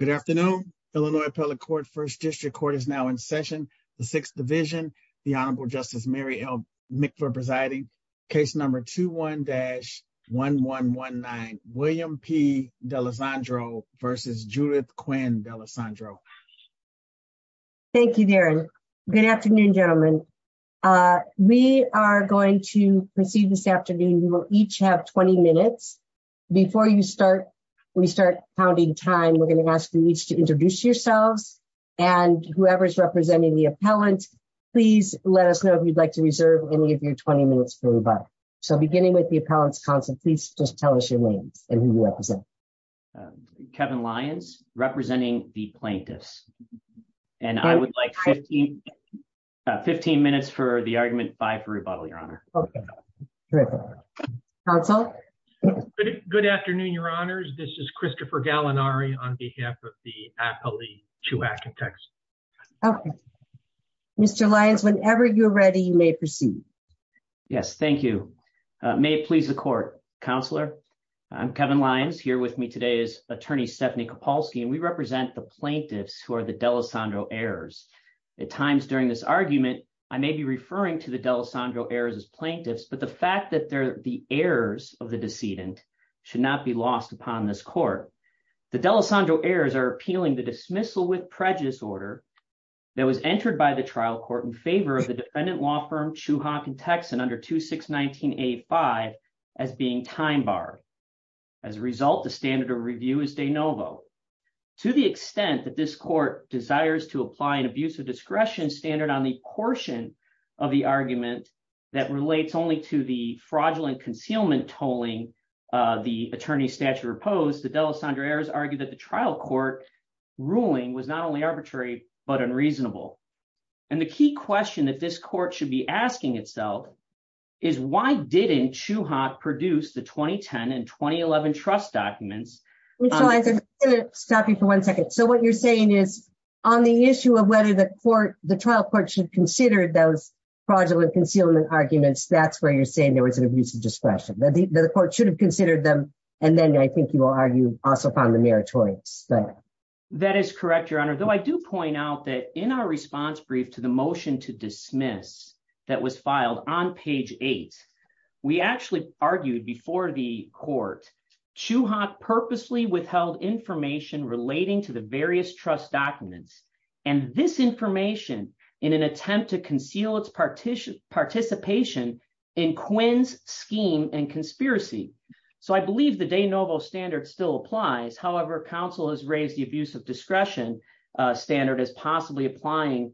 Good afternoon Illinois Appellate Court First District Court is now in session the Sixth Division the Honorable Justice Mary Elmick for presiding case number 21-1119 William P. Dalessandro versus Judith Quinn Dalessandro. Thank you Darren. Good afternoon gentlemen. We are going to proceed this afternoon you will each have 20 minutes before you start we start counting time we're going to ask you each to introduce yourselves and whoever is representing the appellant please let us know if you'd like to reserve any of your 20 minutes for rebuttal. So beginning with the appellant's counsel please just tell us your name and who you represent. Kevin Lyons representing the plaintiffs and I would like 15 15 minutes for the argument by for rebuttal your honor. Counsel. Good afternoon your honors this is Christopher Gallinari on behalf of the Appellee Chiwak and Texan. Okay Mr. Lyons whenever you're ready you may proceed. Yes thank you. May it please the court. Counselor I'm Kevin Lyons here with me today is attorney Stephanie Kopalski and we represent the plaintiffs who are the Dalessandro heirs at times during this argument I may be referring to the Dalessandro heirs as plaintiffs but the fact that they're the heirs of the decedent should not be lost upon this court. The Dalessandro heirs are appealing the dismissal with prejudice order that was entered by the trial court in favor of the defendant law firm Chiwak and Texan under 2619A5 as being time bar as a result the standard of review is de novo. To the extent that this court desires to apply an abuse of discretion standard on the portion of the argument that relates only to the fraudulent concealment tolling the attorney statute opposed the Dalessandro heirs argued that the trial court ruling was not only arbitrary but unreasonable and the key question that this court should be which I'm going to stop you for one second so what you're saying is on the issue of whether the court the trial court should consider those fraudulent concealment arguments that's where you're saying there was an abuse of discretion that the court should have considered them and then I think you will argue also found the meritorious that that is correct your honor though I do point out that in our response brief to the motion to dismiss that was filed on page eight we actually argued before the court Chiwak purposely withheld information relating to the various trust documents and this information in an attempt to conceal its participation in Quinn's scheme and conspiracy so I believe the de novo standard still applies however counsel has raised the abuse of discretion standard as possibly applying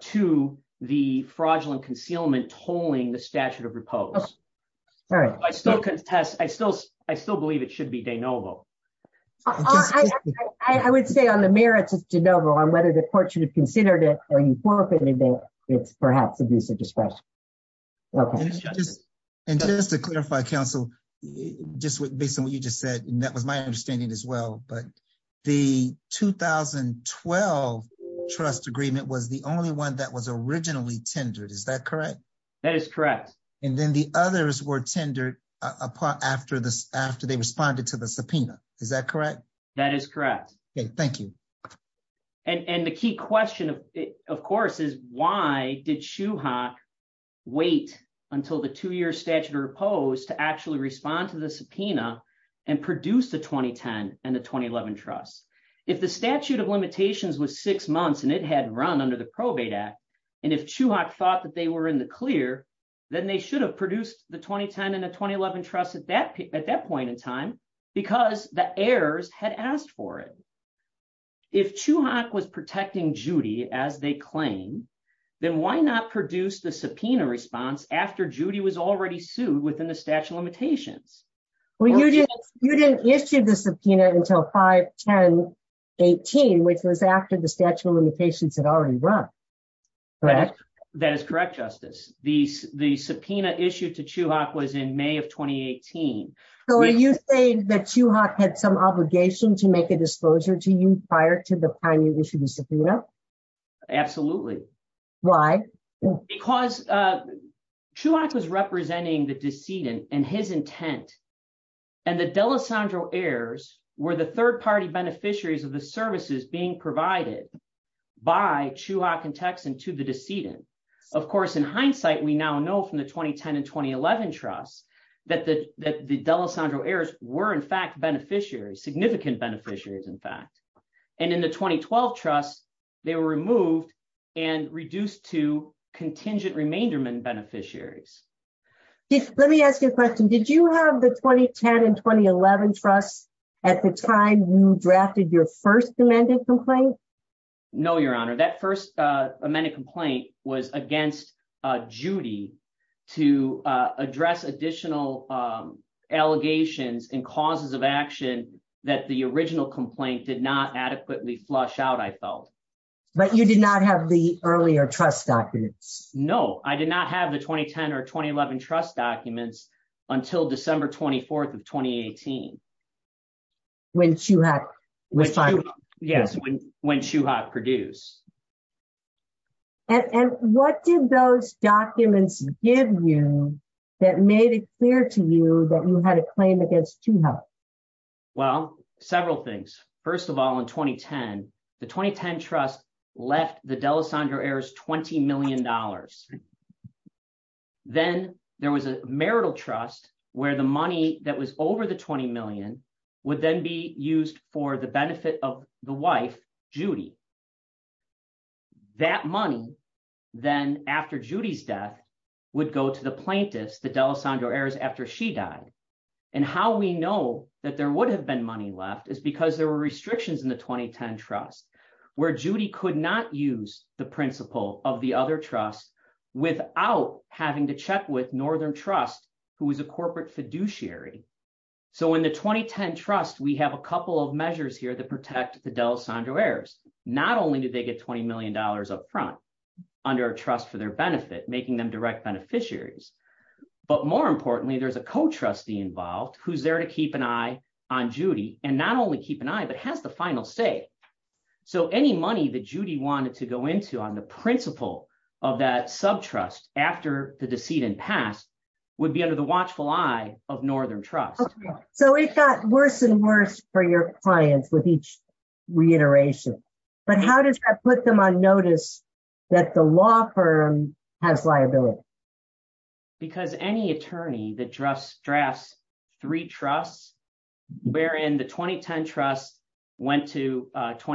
to the fraudulent concealment tolling the statute of repose all right I still contest I still I still believe it should be de novo I would say on the merits of de novo on whether the court should have considered it or you forfeited it it's perhaps abuse of discretion okay and just to clarify counsel just based on what you just said and that was my understanding as well but the 2012 trust agreement was the only one that was originally tendered is that correct that is correct and then the others were tendered apart after this after they responded to the subpoena is that correct that is correct okay thank you and and the key question of course is why did Chiwak wait until the two-year statute of repose to actually respond to the subpoena and produce the 2010 and the 2011 trust if the statute of limitations was six months and it had run under the probate act and if Chiwak thought that they were in the clear then they should have produced the 2010 and the 2011 trust at that at that point in time because the heirs had asked for it if Chiwak was protecting Judy as they claim then why not produce the subpoena response after Judy was already sued within the statute of limitations well you didn't you didn't issue the subpoena until 5 10 18 which was after the statute of limitations had already run correct that is correct justice the the subpoena issued to Chiwak was in may of 2018 so you say that Chiwak had some obligation to make a disclosure to you prior to the time you the decedent and his intent and the D'Alessandro heirs were the third-party beneficiaries of the services being provided by Chiwak and Texan to the decedent of course in hindsight we now know from the 2010 and 2011 trust that the that the D'Alessandro heirs were in fact beneficiaries significant beneficiaries in fact and in the 2012 trust they were removed and reduced to let me ask you a question did you have the 2010 and 2011 trust at the time you drafted your first amended complaint no your honor that first uh amended complaint was against uh Judy to uh address additional um allegations and causes of action that the original complaint did not adequately flush out i felt but you did not have the earlier trust documents no i did not have the 2010 or 2011 trust documents until December 24th of 2018 when Chiwak was fine yes when Chiwak produced and what did those documents give you that made it clear to you that you had a claim against Chiwak well several things first of all in 2010 the 2010 trust left the D'Alessandro heirs 20 million dollars then there was a marital trust where the money that was over the 20 million would then be used for the benefit of the wife Judy that money then after Judy's death would go to the plaintiffs the D'Alessandro heirs after she died and how we know that there would have been money left is because there were restrictions in the 2010 trust where Judy could not use the principle of the other trust without having to check with northern trust who was a corporate fiduciary so in the 2010 trust we have a couple of measures here that protect the D'Alessandro heirs not only did they get 20 million dollars up front under a trust for their benefit making them direct beneficiaries but more importantly there's a co-trustee involved who's there to keep an eye on Judy and not only keep an eye but has the final say so any money that Judy wanted to go into on the principle of that subtrust after the decedent passed would be under the watchful eye of northern trust so it got worse and worse for your clients with each reiteration but how does that put them on notice that the law firm has 20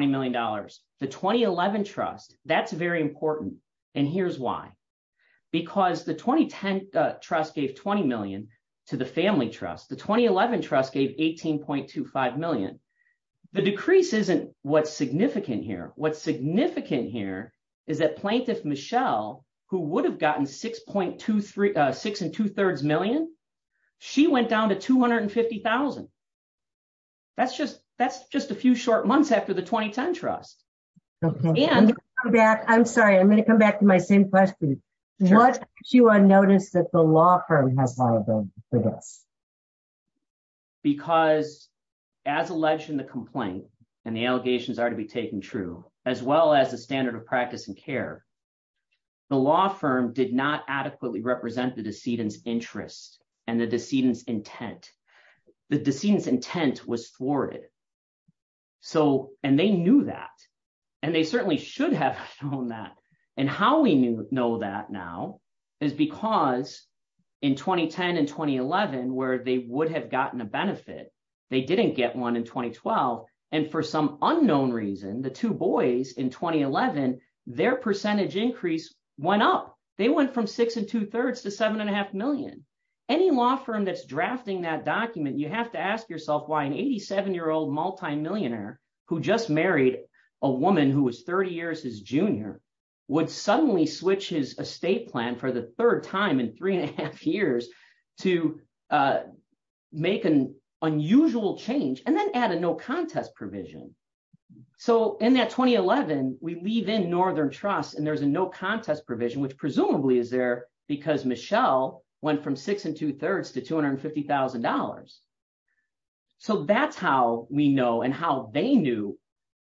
million dollars the 2011 trust that's very important and here's why because the 2010 trust gave 20 million to the family trust the 2011 trust gave 18.25 million the decrease isn't what's significant here what's significant here is that plaintiff Michelle who would have gotten 6.23 six and two-thirds million she went down to 250 000 that's just that's just a few short months after the 2010 trust and go back i'm sorry i'm going to come back to my same question what you unnoticed that the law firm has liability for this because as alleged in the complaint and the allegations are to be taken true as well as the standard of practice and care the law firm did not adequately represent the decedent's interest and the decedent's intent the decedent's intent was thwarted so and they knew that and they certainly should have shown that and how we knew know that now is because in 2010 and 2011 where they would have gotten a benefit they didn't get one in 2012 and for some unknown reason the two boys in 2011 their percentage increase went up they went from six and two-thirds to seven and a half million any law firm that's in the document you have to ask yourself why an 87 year old multi-millionaire who just married a woman who was 30 years his junior would suddenly switch his estate plan for the third time in three and a half years to make an unusual change and then add a no contest provision so in that 2011 we leave in northern trust and there's a no contest provision which presumably is there because michelle went from six and two-thirds to two hundred and fifty thousand dollars so that's how we know and how they knew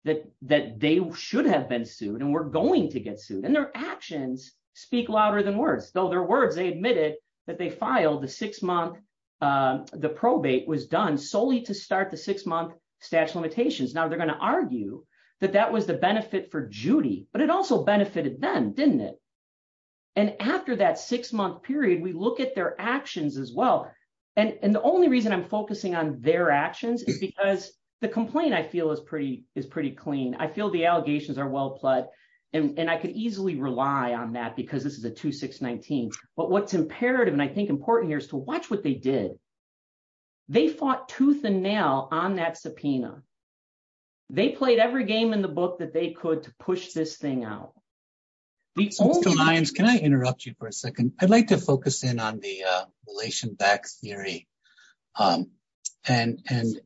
that that they should have been sued and we're going to get sued and their actions speak louder than words though their words they admitted that they filed the six-month the probate was done solely to start the six-month stash limitations now they're going to argue that that was the benefit for judy but it also benefited them didn't it and after that six-month period we look at their actions as well and and the only reason i'm focusing on their actions is because the complaint i feel is pretty is pretty clean i feel the allegations are well pled and and i could easily rely on that because this is a 2619 but what's imperative and i think important here is to watch what they did they fought tooth and nail on that subpoena they played every game in the book that they could to push this thing out the lions can i interrupt you for i'd like to focus in on the relation back theory um and and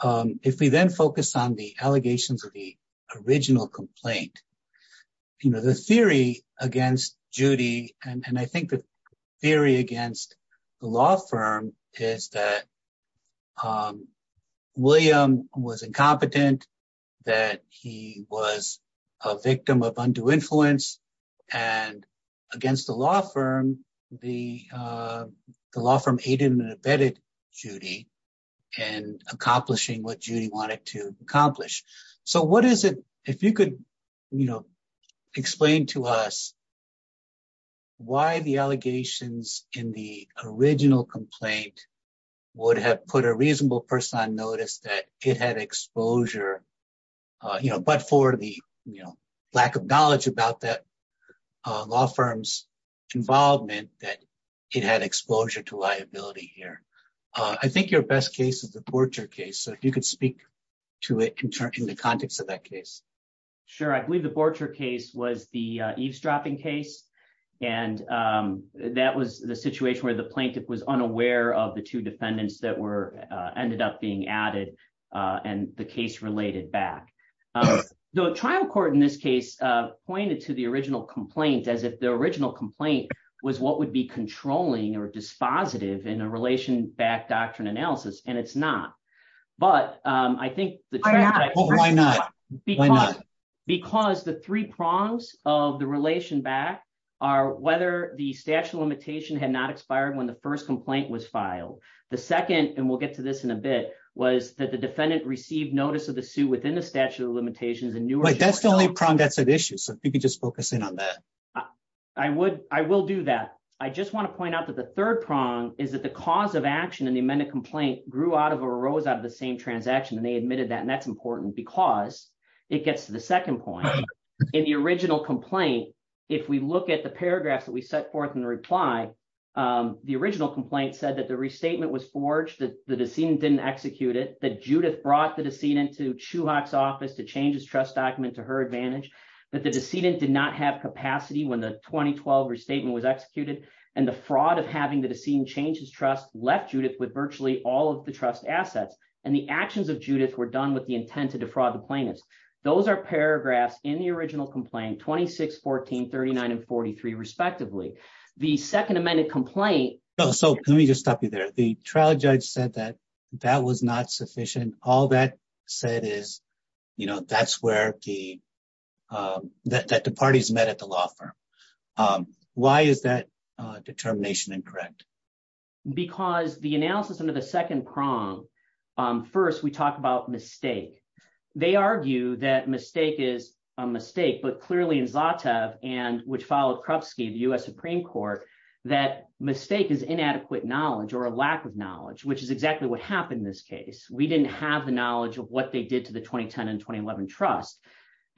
um if we then focus on the allegations of the original complaint you know the theory against judy and and i think the theory against the law firm is that um william was incompetent that he was a victim of undue influence and against the law firm the uh the law firm aided and abetted judy and accomplishing what judy wanted to accomplish so what is it if you could you know explain to us why the allegations in the original complaint would have put a reasonable person on notice that it had exposure uh you know but for the you know lack of knowledge about that uh law firm's involvement that it had exposure to liability here uh i think your best case is the portrait case so if you could speak to it in the context of that case sure i believe the portrait case was the eavesdropping case and um that was the situation where the plaintiff was and the case related back um the trial court in this case uh pointed to the original complaint as if the original complaint was what would be controlling or dispositive in a relation back doctrine analysis and it's not but um i think the why not because the three prongs of the relation back are whether the statute of limitation had not expired when the first filed the second and we'll get to this in a bit was that the defendant received notice of the suit within the statute of limitations and new that's the only prong that's at issue so if you could just focus in on that i would i will do that i just want to point out that the third prong is that the cause of action in the amended complaint grew out of arose out of the same transaction and they admitted that and that's important because it gets to the second point in the original complaint if we look at the paragraphs that we set forth in the reply um the original complaint said that the restatement was forged that the decedent didn't execute it that judith brought the decedent to chuhak's office to change his trust document to her advantage but the decedent did not have capacity when the 2012 restatement was executed and the fraud of having the decedent change his trust left judith with virtually all of the trust assets and the actions of judith were done with the intent to defraud the plaintiffs those are paragraphs in the original complaint 26 14 39 and 43 respectively the second amended complaint oh so let me just stop you there the trial judge said that that was not sufficient all that said is you know that's where the uh that the parties met at the law firm um why is that uh determination incorrect because the analysis under the second prong um first we talk about mistake they argue that mistake is a mistake but clearly in zatev and which followed krupski the u.s supreme court that mistake is inadequate knowledge or a lack of knowledge which is exactly what happened in this case we didn't have the knowledge of what they did to the 2010 and 2011 trust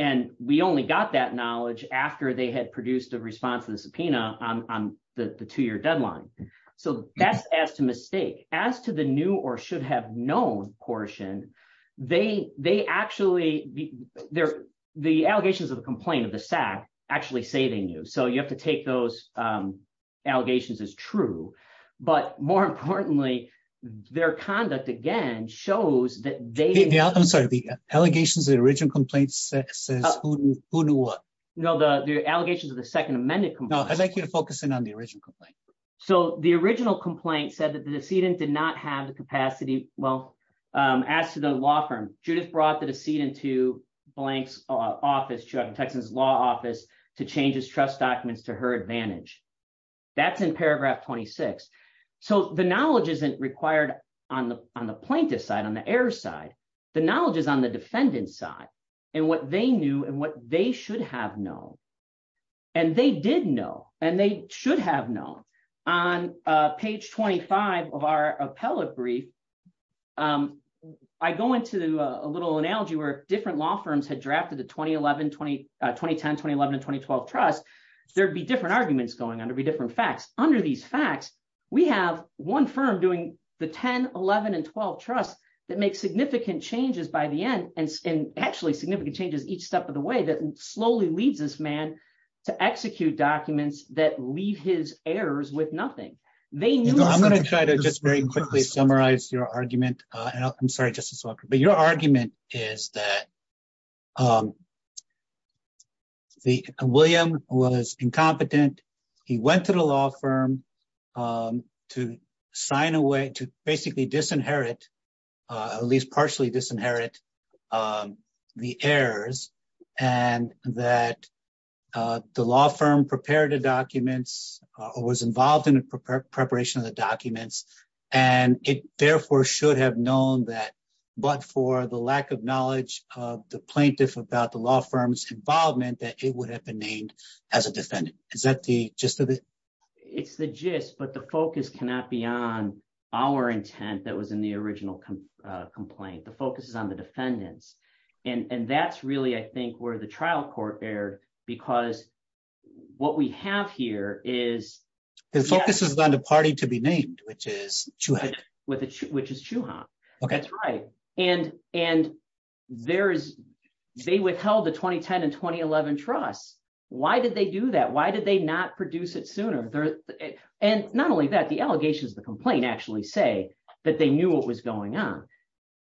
and we only got that knowledge after they had produced a response to the subpoena on on the the two-year deadline so that's as to mistake as to the new or should have known portion they they actually they're the allegations of the complaint of the sack actually saving you so you have to take those um allegations as true but more importantly their conduct again shows that they i'm sorry the allegations the original complaint says no the the allegations of the second amended no i'd like you to focus in on the original complaint so the original complaint said that the decedent did not have the capacity well um as to the law firm judith brought the decedent to blank's office to texas law office to change his trust documents to her advantage that's in paragraph 26 so the knowledge isn't required on the on the plaintiff's side on the error side the knowledge is on the defendant's side and what they knew and they should have known and they did know and they should have known on page 25 of our appellate brief um i go into a little analogy where different law firms had drafted the 2011 20 2010 2011 and 2012 trust there'd be different arguments going on to be different facts under these facts we have one firm doing the 10 11 and 12 trusts that make significant changes by the end and actually significant changes each step of the way that slowly leads this man to execute documents that leave his errors with nothing they knew i'm going to try to just very quickly summarize your argument uh i'm sorry justice walker but your argument is that um the william was incompetent he went to the law firm um to sign away to basically disinherit uh at least partially disinherit um the errors and that uh the law firm prepared the documents or was involved in the preparation of the documents and it therefore should have known that but for the lack of knowledge of the plaintiff about the law firm's involvement that it would have been named as a defendant is that the gist of it it's the gist but the focus cannot be on our intent that was in the original complaint the focus is on the defendants and and that's really i think where the trial court erred because what we have here is the focus is on the party to be named which is with which is chuhan okay that's right and and there is they withheld the 2010 and 2011 trusts why did they do that why did they not produce it sooner there and not only that the allegations the complaint actually say that they knew what was going on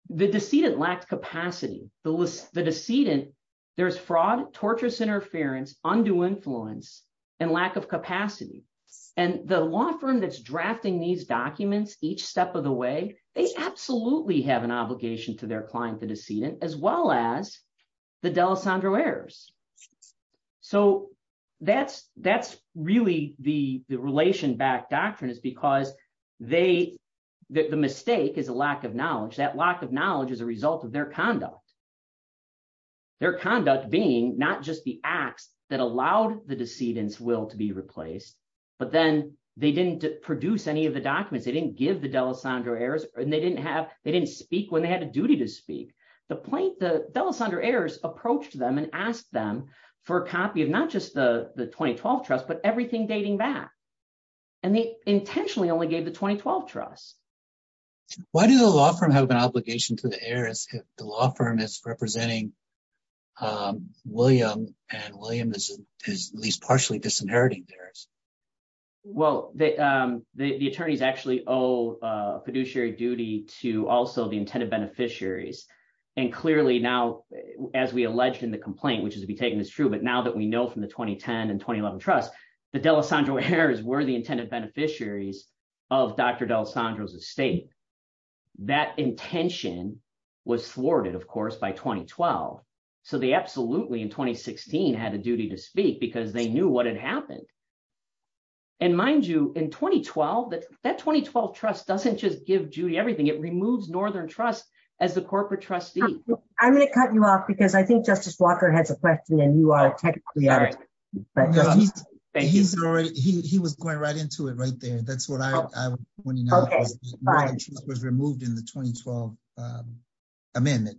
the decedent lacked capacity the list the decedent there's fraud torturous interference undue influence and lack of capacity and the law firm that's drafting these documents each step of the way they absolutely have an obligation to their client the decedent as well as the delessandro errors so that's that's really the the relation back doctrine is because they the mistake is a lack of knowledge that lack of knowledge is a result of their conduct their conduct being not just the acts that allowed the decedent's will to be replaced but then they didn't produce any of the documents they didn't give the delessandro errors and they didn't have they didn't speak when they had a duty to speak the plaintiff delessandro errors approached them and asked them for a copy of not just the the 2012 trust but everything dating back and they intentionally only gave the 2012 trust why do the law firm have an obligation to the heirs if the law firm is representing um william and william is at least partially disinheriting theirs well the um the attorneys actually owe uh fiduciary duty to also the intended beneficiaries and clearly now as we alleged in the complaint which is to be taken as true but now that we know from the 2010 and 2011 trust the delessandro errors were the intended beneficiaries of dr delessandro's estate that intention was thwarted of course by 2012 so they absolutely in 2016 had a duty to speak because they knew what had happened and mind you in 2012 that that 2012 trust doesn't just give judy everything it removes northern trust as the corporate trustee i'm going to cut you off because i think justice walker has a question and you are technically he's already he was going right into it right there that's what i i want to know was removed in the 2012 amendment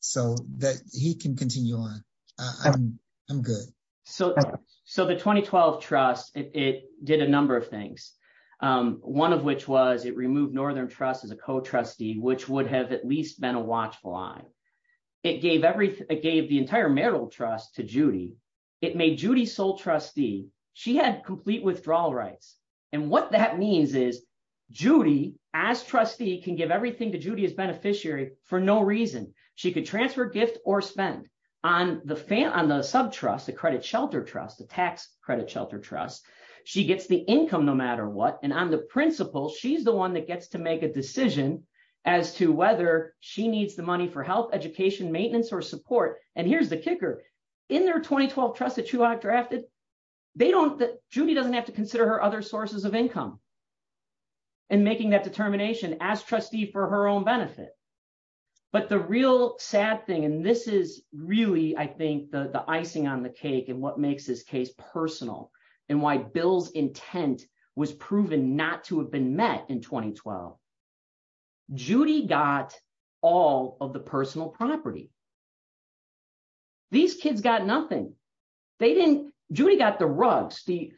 so that he can continue on i'm i'm good so so the 2012 trust it did a number of things um one of which was it removed northern trust as a co-trustee which would have at least been a watchful eye it gave everything it gave the entire marital trust to judy it made judy sole trustee she had complete withdrawal rights and what that means is judy as trustee can give everything to judy as beneficiary for no reason she could transfer gift or spend on the fan on the sub trust the credit shelter trust the tax credit shelter trust she gets the income no matter what and on the principle she's the one that gets to make a decision as to whether she needs the money for health education maintenance or support and here's the kicker in their 2012 trust that you are drafted they don't that judy doesn't have to consider her other sources of income and making that determination as trustee for her own benefit but the real sad thing and this is really i think the the icing on the cake and what makes this case personal and why bill's intent was proven not to have been met in 2012 judy got all of the personal property these kids got nothing they didn't judy got the rugs the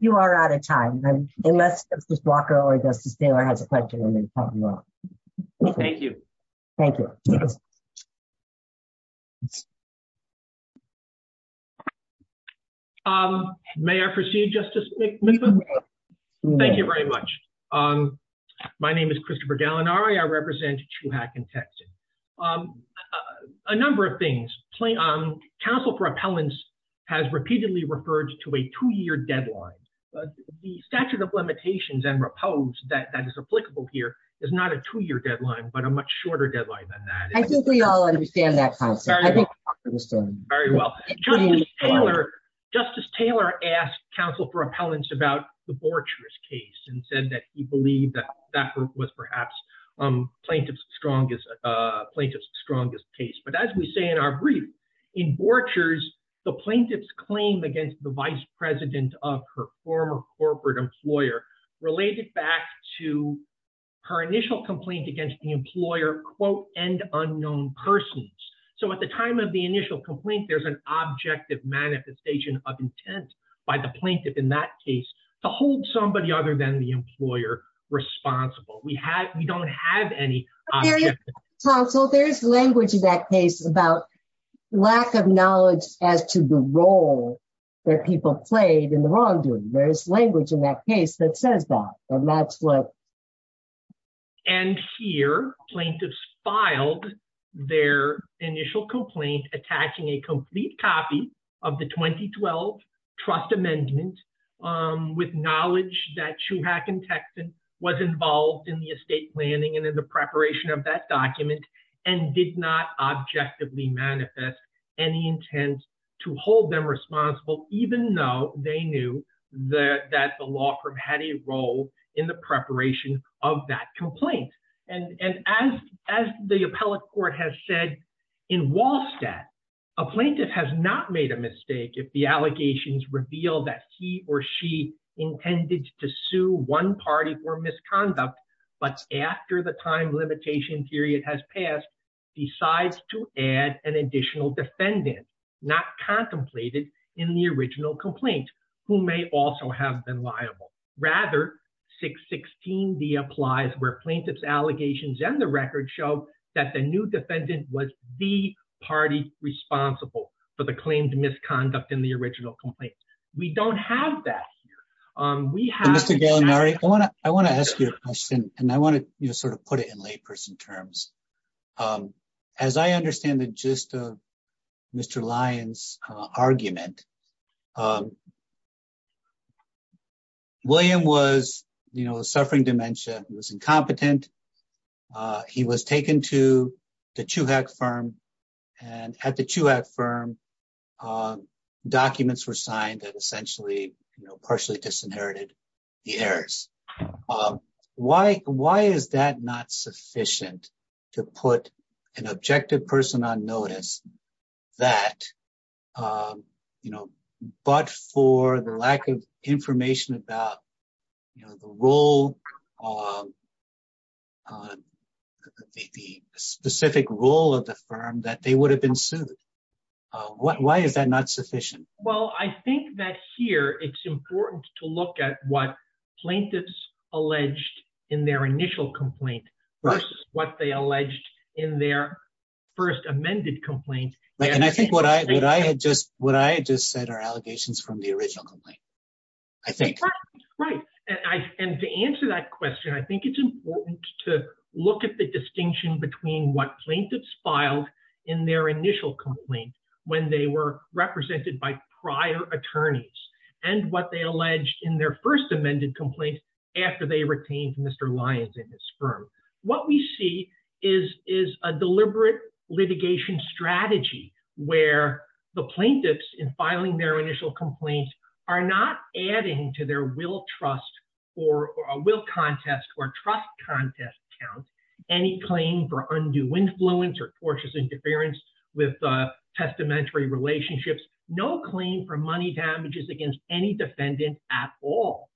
you are out of time unless justice walker or justice taylor has a question thank you thank you um may i proceed justice thank you very much um my name is christopher gallinari i represent chuhak in texas um a number of things play um council for appellants has repeatedly referred to a two-year deadline but the statute of limitations and repose that that is applicable here is not a two-year deadline but a much shorter deadline than that i think we all understand that very well justice taylor justice taylor asked council for appellants about the borchers case and said that he believed that that group was perhaps um plaintiff's strongest uh plaintiff's case but as we say in our brief in borchers the plaintiff's claim against the vice president of her former corporate employer related back to her initial complaint against the employer quote end unknown persons so at the time of the initial complaint there's an objective manifestation of intent by the plaintiff in that case to hold somebody other than the employer responsible we have we don't have any so there's language in that case about lack of knowledge as to the role that people played in the wrongdoing there's language in that case that says that and that's what and here plaintiffs filed their initial complaint attacking a complete copy of the 2012 trust amendment um with knowledge that shuhak and texan was involved in the estate planning and in the preparation of that document and did not objectively manifest any intent to hold them responsible even though they knew the that the law firm had a role in the preparation of that complaint and and as as the appellate court has said in wallstat a plaintiff has not made a mistake if the allegations reveal that he or she intended to sue one party for misconduct but after the time limitation period has passed decides to add an additional defendant not contemplated in the original complaint who may also have been liable rather 616d applies where plaintiff's allegations and the record show that the new defendant was the party responsible for the claimed misconduct in the original complaint we don't have that um we have mr gallinari i want to i want to ask you a question and i want to you know sort of put it in layperson terms um as i understand the gist of mr lyon's uh argument um um why why is that not sufficient to put an objective person on notice that um you know but for the lack of information about you know the role of the specific role of the firm that they would have been sued uh what why is that not sufficient well i think that here it's important to look at what plaintiffs alleged in their initial complaint versus what they alleged in their first amended complaint and i think what i would i had just what i just said are allegations from the original complaint i think right and to answer that question i think it's important to look at the distinction between what plaintiffs filed in their initial complaint when they were represented by prior attorneys and what they alleged in their first amended complaint after they retained mr lyons in this firm what we see is is a deliberate litigation strategy where the plaintiffs in filing their initial complaints are not adding to their will trust or will contest or trust contest count any claim for undue influence or tortious interference with uh testamentary relationships no claim for money damages against any defendant at all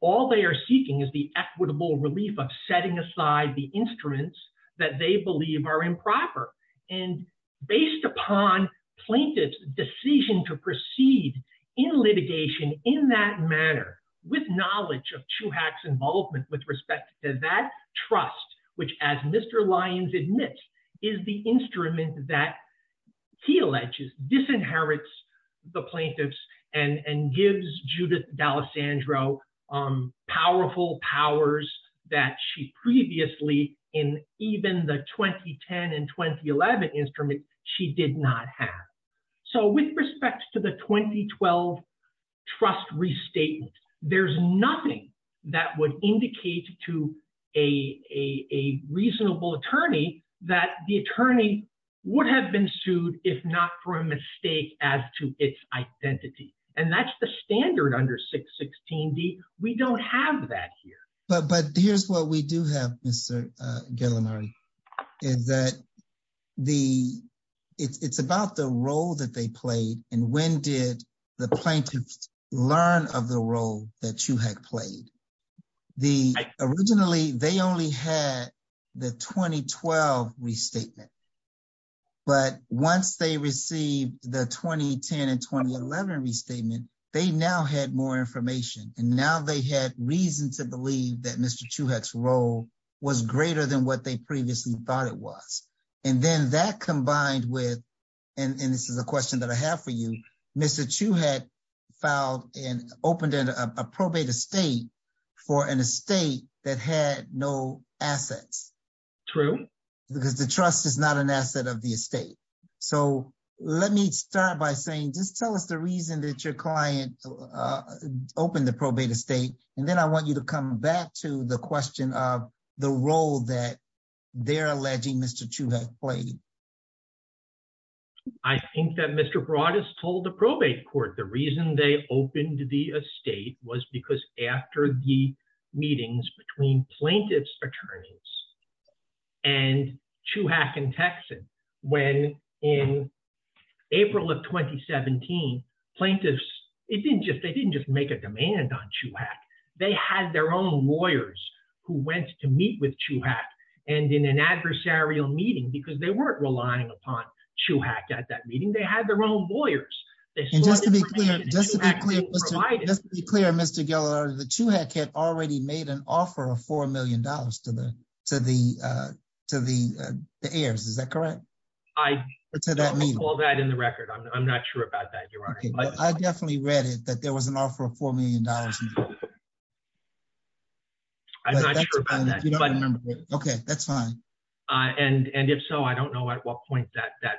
all they are seeking is the equitable relief of setting aside the instruments that they believe are improper and based upon plaintiff's decision to proceed in litigation in that manner with knowledge of chuhak's involvement with respect to that trust which as mr lyons admits is the instrument that he alleges disinherits the plaintiffs and and in even the 2010 and 2011 instruments she did not have so with respect to the 2012 trust restatement there's nothing that would indicate to a a a reasonable attorney that the attorney would have been sued if not for a mistake as to its identity and that's the standard under 616d we don't have that here but but here's what we do have mr uh gillinari is that the it's it's about the role that they played and when did the plaintiffs learn of the role that chuhak played the originally they only had the 2012 restatement but once they received the 2010 and 2011 restatement they now had more information and now they had reason to believe that mr chuhak's role was greater than what they previously thought it was and then that combined with and and this is a question that i have for you mr chuhak filed and opened a probate estate for an estate that had no assets true because the trust is not an asset of the estate so let me start by saying just tell us the reason that your client uh opened the probate estate and then i want you to come back to the question of the role that they're alleging mr chuhak played i think that mr broad has told the probate court the reason they opened the estate was because after the meetings between plaintiff's attorneys and chuhak in texas when in april of 2017 plaintiffs it didn't just they didn't just make a demand on chuhak they had their own lawyers who went to meet with chuhak and in an adversarial meeting because they weren't relying upon chuhak at that meeting they had their own lawyers just to be clear just to be clear just to be clear mr geller the chuhak had already made an offer of four million dollars to the to the uh to the uh the heirs is that correct i to that meeting all that in the record i'm not sure about that your honor i definitely read it that there was an offer of four million dollars i'm not sure about that okay that's fine uh and and if so i don't know at what point that that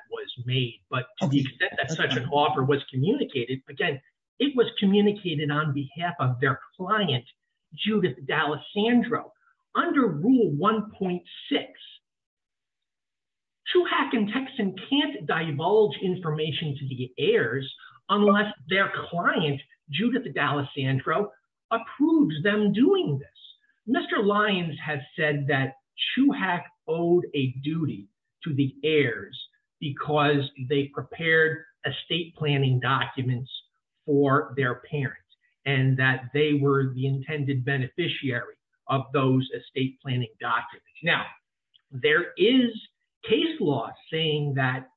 but to the extent that such an offer was communicated again it was communicated on behalf of their client judith dallasandro under rule 1.6 chuhak and texan can't divulge information to the heirs unless their client judith dallasandro approves them doing this mr lyons has said that prepared estate planning documents for their parents and that they were the intended beneficiary of those estate planning documents now there is case law saying that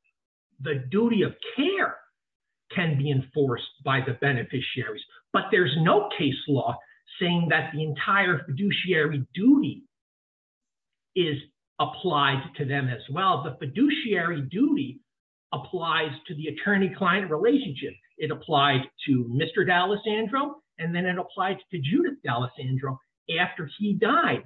the duty of care can be enforced by the beneficiaries but there's no case law saying that the entire fiduciary duty is applied to them as well the fiduciary duty applies to the attorney-client relationship it applied to mr dallasandro and then it applied to judith dallasandro after he died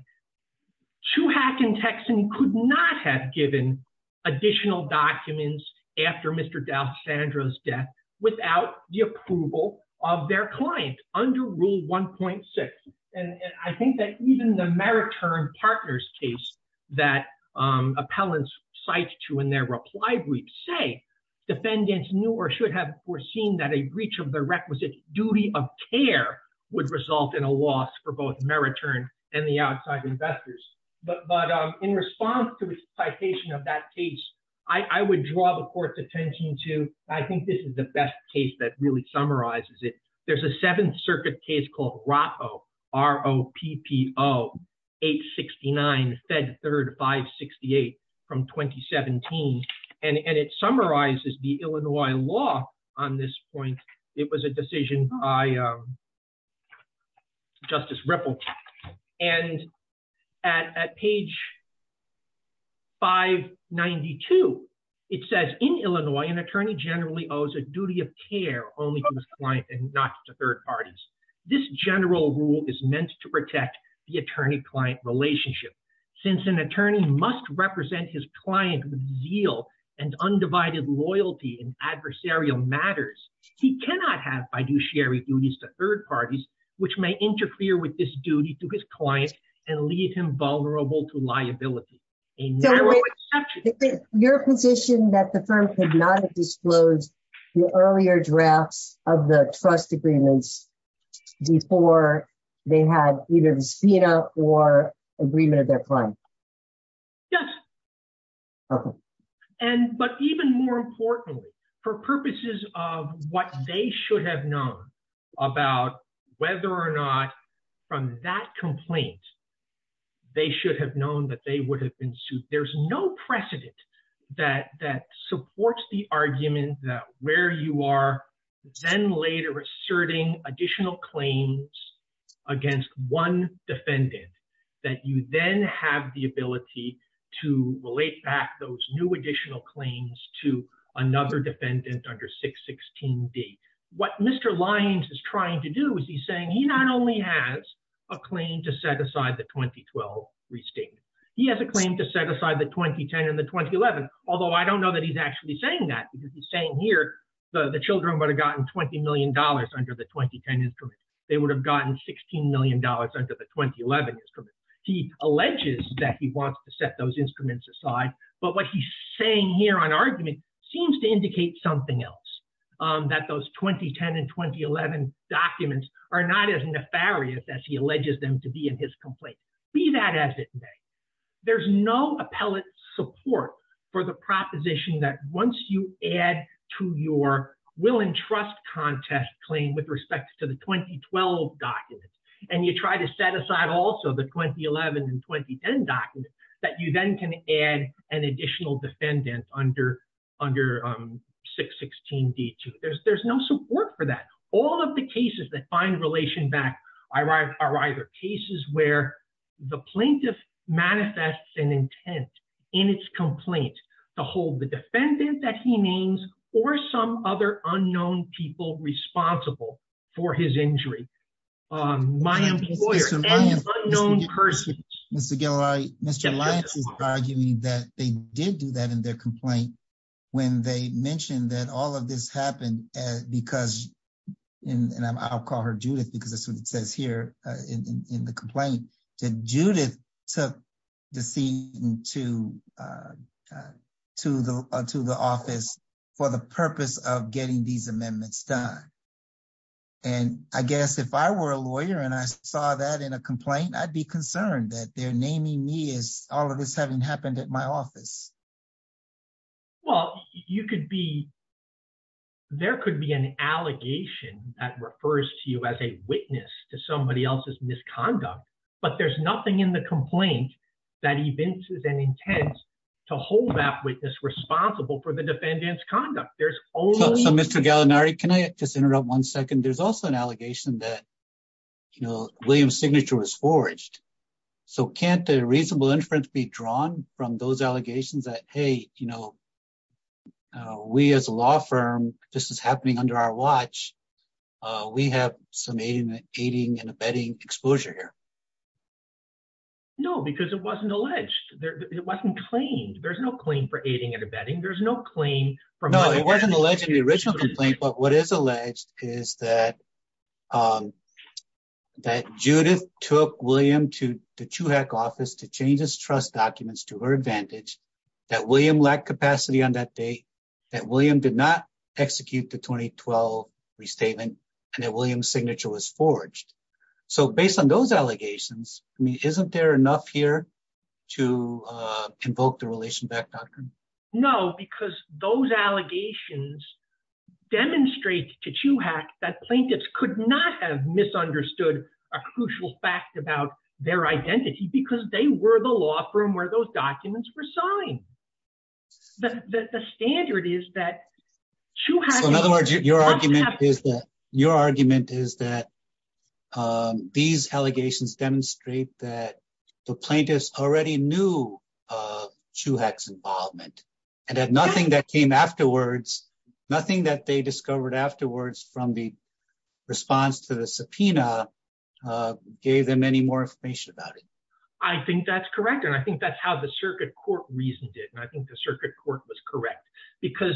chuhak and texan could not have given additional documents after mr dallasandro's death without the approval of their client under rule 1.6 and and i think that even the mariturn partners case that um appellants cite to in their reply brief say defendants knew or should have foreseen that a breach of the requisite duty of care would result in a loss for both mariturn and the outside investors but but um in response to the citation of that case i i would draw the court's attention to i think this is the best case that really summarizes it there's a seventh circuit case called roto r-o-p-p-o 869 fed third 568 from 2017 and and it summarizes the illinois law on this point it was a decision by um justice ripple and at at page 592 it says in illinois an attorney generally owes a duty of care only to his client and not to third parties this general rule is meant to protect the attorney-client relationship since an attorney must represent his client with zeal and undivided loyalty in adversarial matters he cannot have fiduciary duties to third parties which may interfere with this duty to his client and leave him vulnerable to liability a narrow exception your position that the firm could not disclose the earlier drafts of the trust agreements before they had either the spina or agreement of their client yes okay and but even more importantly for purposes of what they should have known about whether or not from that complaint they should have known that they would have been sued there's no precedent that that supports the argument that where you are then later asserting additional claims against one defendant that you then have the ability to relate back those new additional claims to another defendant under 616d what mr lyons is trying to do is he's saying he not only has a claim to set aside the 2012 restatement he has a claim to set aside the 2010 and the 2011 although i don't know that he's actually saying that because he's saying here the the children would have gotten 20 million dollars under the 2010 instrument they alleges that he wants to set those instruments aside but what he's saying here on argument seems to indicate something else um that those 2010 and 2011 documents are not as nefarious as he alleges them to be in his complaint be that as it may there's no appellate support for the proposition that once you add to your will and trust contest claim with respect to the 2012 documents and you try to set aside also the 2011 and 2010 documents that you then can add an additional defendant under under um 616d2 there's there's no support for that all of the cases that find relation back arrive are either cases where the plaintiff manifests an intent in its complaint to hold the defendant that he names or some other unknown people responsible for his injury um my employer and unknown person mr galli Mr. Lyons is arguing that they did do that in their complaint when they mentioned that all of this happened as because in and i'll call her judith because that's what it says here in in the complaint that judith took the scene to uh to the to the office for the purpose of getting these amendments done and i guess if i were a lawyer and i saw that in a complaint i'd be concerned that they're naming me as all of this having happened at my office well you could be there could be an allegation that refers to you as a witness to somebody else's misconduct but there's nothing in the complaint that evinces an intent to hold that witness responsible for the defendant's just interrupt one second there's also an allegation that you know william's signature was forged so can't the reasonable inference be drawn from those allegations that hey you know we as a law firm this is happening under our watch uh we have some aiding and abetting exposure here no because it wasn't alleged there it wasn't claimed there's no claim for aiding and abetting there's no claim from no it wasn't alleged in the original complaint but what is alleged is that um that judith took william to the chuhack office to change his trust documents to her advantage that william lacked capacity on that date that william did not execute the 2012 restatement and that william's signature was forged so based on those allegations i mean isn't there enough here to uh invoke the relation back doctrine no because those allegations demonstrate to chuhack that plaintiffs could not have misunderstood a crucial fact about their identity because they were the law firm where those documents were signed the the standard is that in other words your argument is that your argument is that um these allegations demonstrate that the plaintiffs already knew uh chuhack's involvement and had nothing that came afterwards nothing that they discovered afterwards from the response to the subpoena uh gave them any more information about it i think that's correct and i think that's how the circuit court reasoned it and i think the circuit court was correct because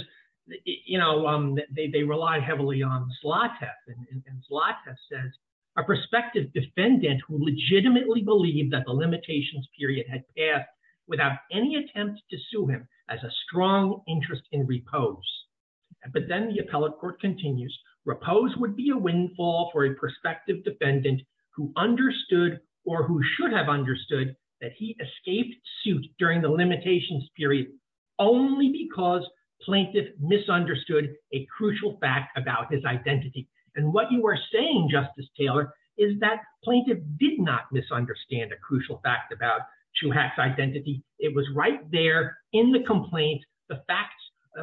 you know um they they relied heavily on and says a prospective defendant who legitimately believed that the limitations period had passed without any attempt to sue him as a strong interest in repose but then the appellate court continues repose would be a windfall for a prospective defendant who understood or who should have understood that he escaped suit during the limitations period only because plaintiff misunderstood a crucial fact about his identity and what you were saying justice taylor is that plaintiff did not misunderstand a crucial fact about chuhack's identity it was right there in the complaint the facts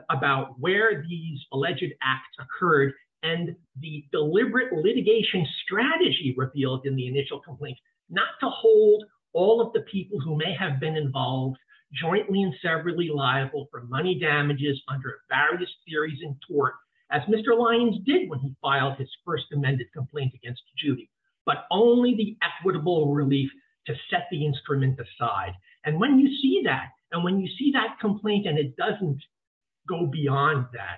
about where these alleged acts occurred and the deliberate litigation strategy revealed in the initial complaint not to hold all of the people who may have been involved jointly and severally liable for money damages under various theories in tort as mr lyons did when he filed his first amended complaint against judy but only the equitable relief to set the instrument aside and when you see that and when you see that complaint and it doesn't go beyond that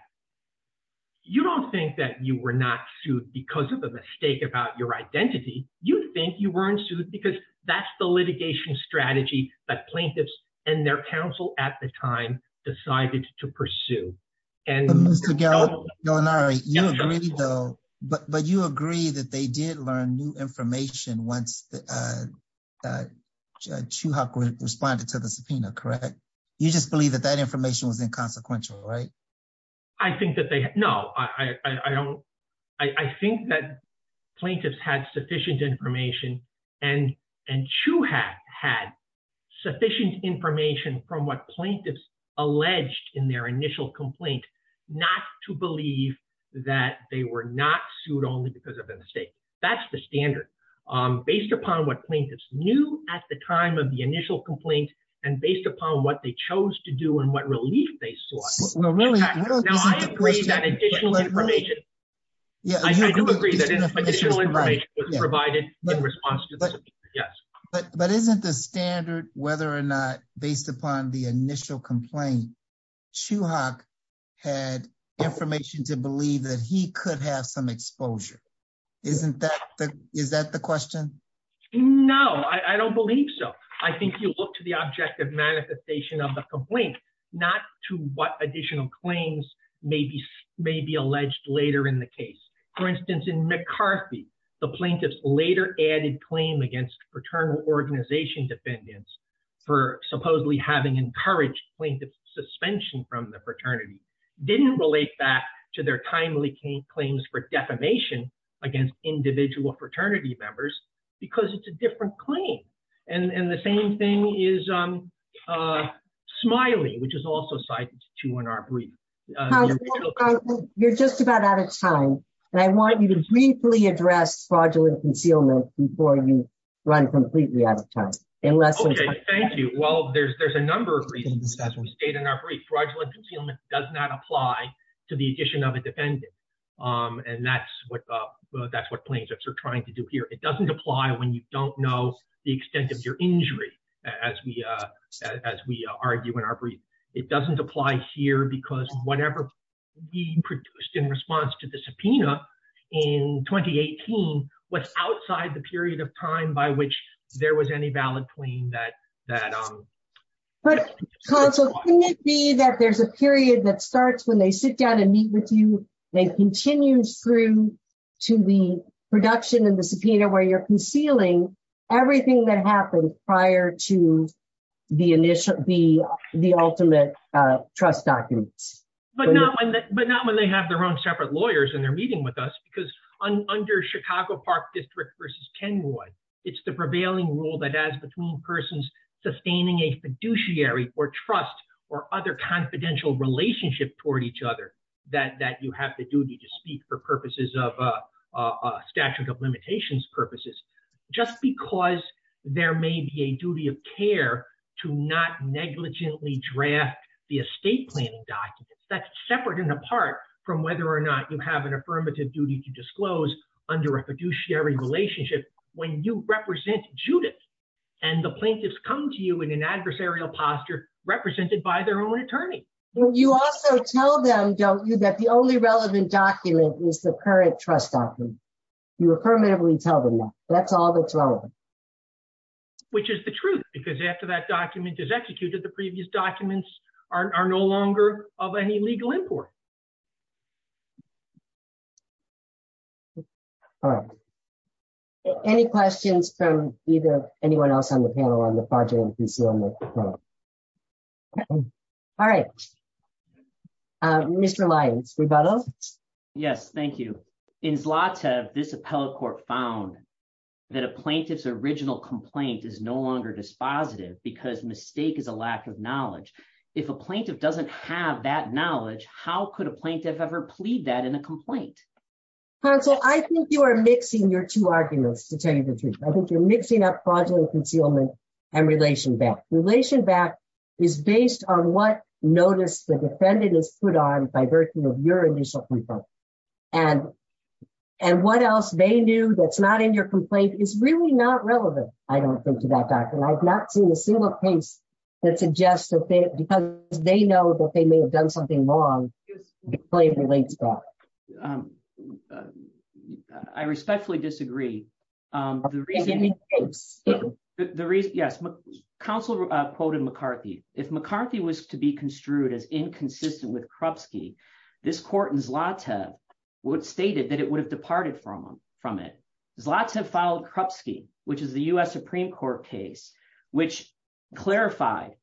you don't think that you were not sued because of a mistake about your identity you think you weren't sued because that's the litigation strategy that plaintiffs and their counsel at the time decided to pursue and mr gallagher you agree though but but you agree that they did learn new information once uh uh chuhack responded to the subpoena correct you just believe that that information was inconsequential right i think that they no i i i i think that plaintiffs had sufficient information and and chuhack had sufficient information from what plaintiffs alleged in their initial complaint not to believe that they were not sued only because of a mistake that's the standard um based upon what plaintiffs knew at the time of the initial complaint and based upon what they chose to do and what relief they will really now i agree that additional information yeah i do agree that additional information was provided in response to yes but but isn't the standard whether or not based upon the initial complaint chuhack had information to believe that he could have some exposure isn't that the is that the question no i i don't believe so i think you look to the objective manifestation of the complaint not to what additional claims may be may be alleged later in the case for instance in mccarthy the plaintiffs later added claim against paternal organization defendants for supposedly having encouraged plaintiff suspension from the fraternity didn't relate back to their timely claims for defamation against individual fraternity members because it's a different claim and and the same thing is um uh smiley which is also cited to in our brief you're just about out of time and i want you to briefly address fraudulent concealment before you run completely out of time unless okay thank you well there's there's a number of reasons we stayed in our brief fraudulent concealment does not apply to the addition of here it doesn't apply when you don't know the extent of your injury as we uh as we argue in our brief it doesn't apply here because whatever we produced in response to the subpoena in 2018 was outside the period of time by which there was any valid claim that that um but counsel wouldn't it be that there's a period that starts when they sit down and meet with you they continue through to the production of the subpoena where you're concealing everything that happened prior to the initial the the ultimate uh trust documents but not when but not when they have their own separate lawyers and they're meeting with us because under chicago park district versus kenwood it's the prevailing rule that as between persons sustaining a fiduciary or trust or other confidential relationship toward each other that that you have the duty to speak for purposes of a statute of limitations purposes just because there may be a duty of care to not negligently draft the estate planning documents that's separate and apart from whether or not you have an affirmative duty to disclose under a fiduciary relationship when you represent judith and the plaintiffs come to you in an adversarial posture represented by their own attorney you also tell them don't you that the only relevant document is the current trust document you affirmatively tell them that's all that's relevant which is the truth because after that document is executed the previous documents are no longer of any legal import all right any questions from either anyone else on the panel on the project all right um mr lyons rebuttal yes thank you in zlata this appellate court found that a plaintiff's original complaint is no longer dispositive because mistake is a lack of knowledge if a plaintiff doesn't have that knowledge how could a plaintiff ever plead that in a complaint counsel i think you are mixing your two arguments to tell you the truth i think you're mixing up concealment and relation back relation back is based on what notice the defendant is put on by virtue of your initial report and and what else they knew that's not in your complaint is really not relevant i don't think to that doctor and i've not seen a single case that suggests that they because they know that they may have done something wrong the claim relates back um i respectfully disagree um the reasoning the reason yes counsel uh quoted mccarthy if mccarthy was to be construed as inconsistent with krupski this court in zlata would stated that it would have departed from from it zlata filed krupski which is the u.s supreme court case which clarified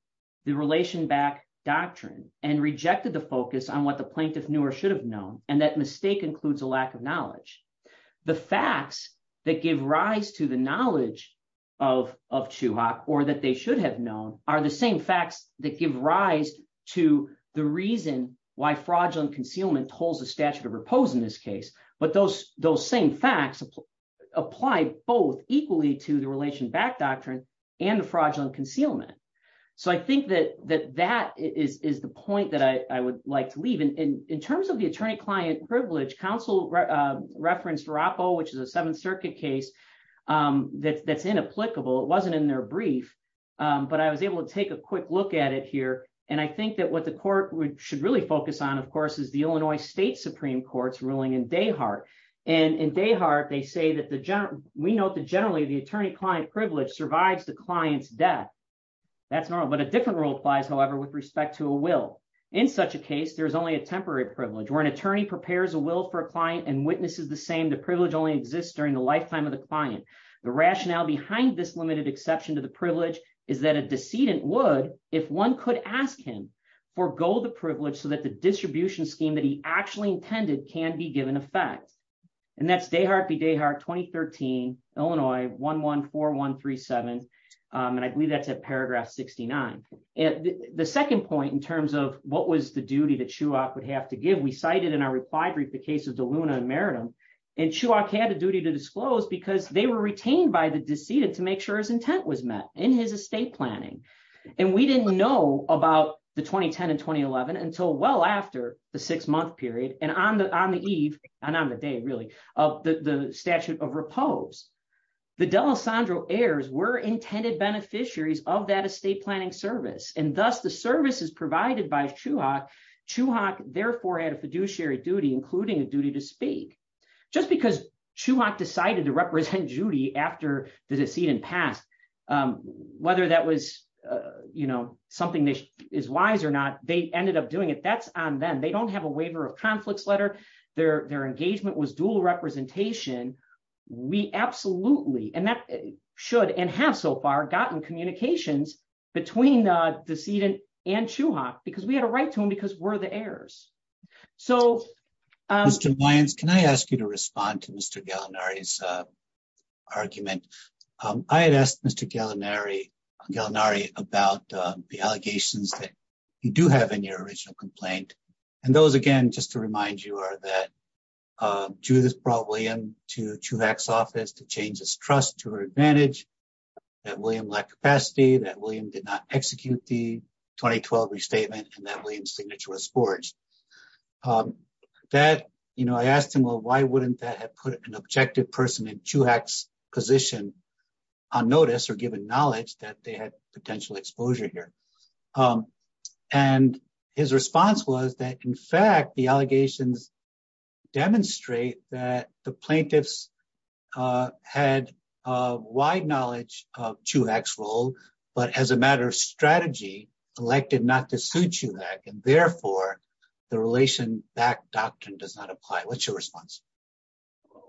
the relation back doctrine and rejected the focus on what the plaintiff knew or should have known and that mistake includes a lack of knowledge the facts that give rise to the knowledge of of chuhak or that they should have known are the same facts that give rise to the reason why fraudulent concealment holds the statute of repose in this case but those those same facts apply both equally to the relation back doctrine and the fraudulent concealment so i think that that that is is the counsel referenced roppo which is a seventh circuit case um that's that's inapplicable it wasn't in their brief um but i was able to take a quick look at it here and i think that what the court would should really focus on of course is the illinois state supreme court's ruling in dayhart and in dayhart they say that the general we note that generally the attorney client privilege survives the client's death that's normal but a different rule applies however with respect to a will in such a case there's only a temporary privilege where an attorney prepares a will for a client and witnesses the same the privilege only exists during the lifetime of the client the rationale behind this limited exception to the privilege is that a decedent would if one could ask him forego the privilege so that the distribution scheme that he actually intended can be given effect and that's dayhart v dayhart 2013 illinois 114137 and i believe that's at point in terms of what was the duty that shuach would have to give we cited in our replied brief the case of deluna and meredith and shuach had a duty to disclose because they were retained by the decedent to make sure his intent was met in his estate planning and we didn't know about the 2010 and 2011 until well after the six month period and on the on the eve and on the day really of the the statute of repose the delessandro heirs were intended beneficiaries of that estate planning service and thus the service is provided by shuach shuach therefore had a fiduciary duty including a duty to speak just because shuach decided to represent judy after the decedent passed um whether that was uh you know something that is wise or not they ended up doing it that's on them they don't have a waiver of conflicts letter their their engagement was dual representation we absolutely and that should and have so far gotten communications between the decedent and shuach because we had a right to him because we're the heirs so um can i ask you to respond to mr galanari's uh argument um i had asked mr galanari galanari about the allegations that you do have in your original complaint and those again just remind you are that uh judith brought william to chuvac's office to change his trust to her advantage that william lacked capacity that william did not execute the 2012 restatement and that william's signature was forged um that you know i asked him well why wouldn't that have put an objective person in chuhak's position on notice or given knowledge that they had potential exposure here um and his response was that in fact the allegations demonstrate that the plaintiffs uh had a wide knowledge of chuhak's role but as a matter of strategy elected not to sue chuhak and therefore the relation back doctrine does not apply what's your response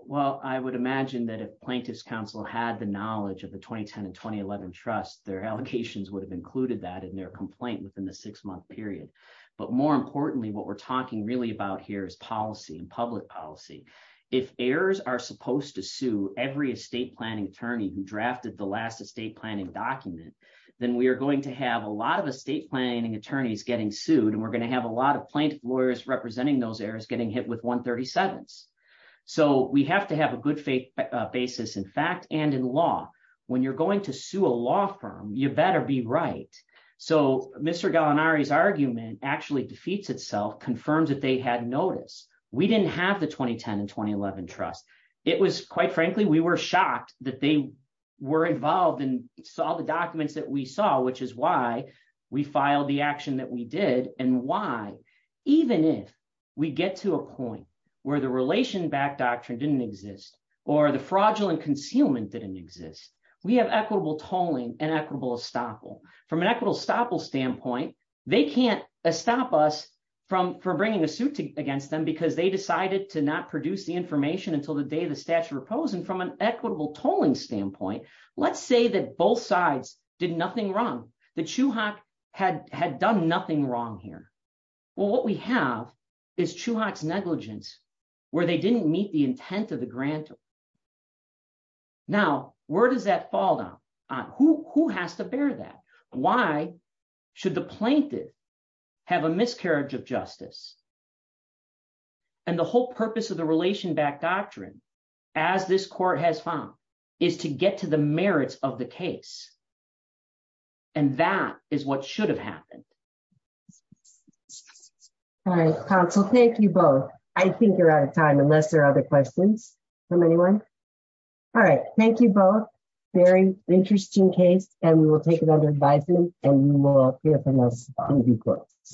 well i would imagine that if plaintiff's council had the knowledge of the 2010 and 2011 trust their allocations would have included that in their complaint within the six-month period but more importantly what we're talking really about here is policy and public policy if heirs are supposed to sue every estate planning attorney who drafted the last estate planning document then we are going to have a lot of estate planning attorneys getting sued and we're going to have a lot of plaintiff lawyers representing those heirs getting hit with 137s so we have to have a good faith basis in fact and in law when you're going to sue a law firm you better be right so mr galanari's argument actually defeats itself confirms that they had notice we didn't have the 2010 and 2011 trust it was quite frankly we were shocked that they were involved and saw the documents that we saw which is why we filed the action that we did and why even if we get to a fraudulent concealment didn't exist we have equitable tolling and equitable estoppel from an equitable estoppel standpoint they can't stop us from for bringing a suit against them because they decided to not produce the information until the day the statute opposing from an equitable tolling standpoint let's say that both sides did nothing wrong the chuhak had had done nothing wrong here well what we have is chuhak's negligence where they didn't meet the intent of the grant now where does that fall down on who who has to bear that why should the plaintiff have a miscarriage of justice and the whole purpose of the relation back doctrine as this court has found is to get to the merits of the case and that is what should have happened all right counsel thank you both i think you're out of time unless there are other questions from anyone all right thank you both very interesting case and we will take it under advisement and we will hear from us in due course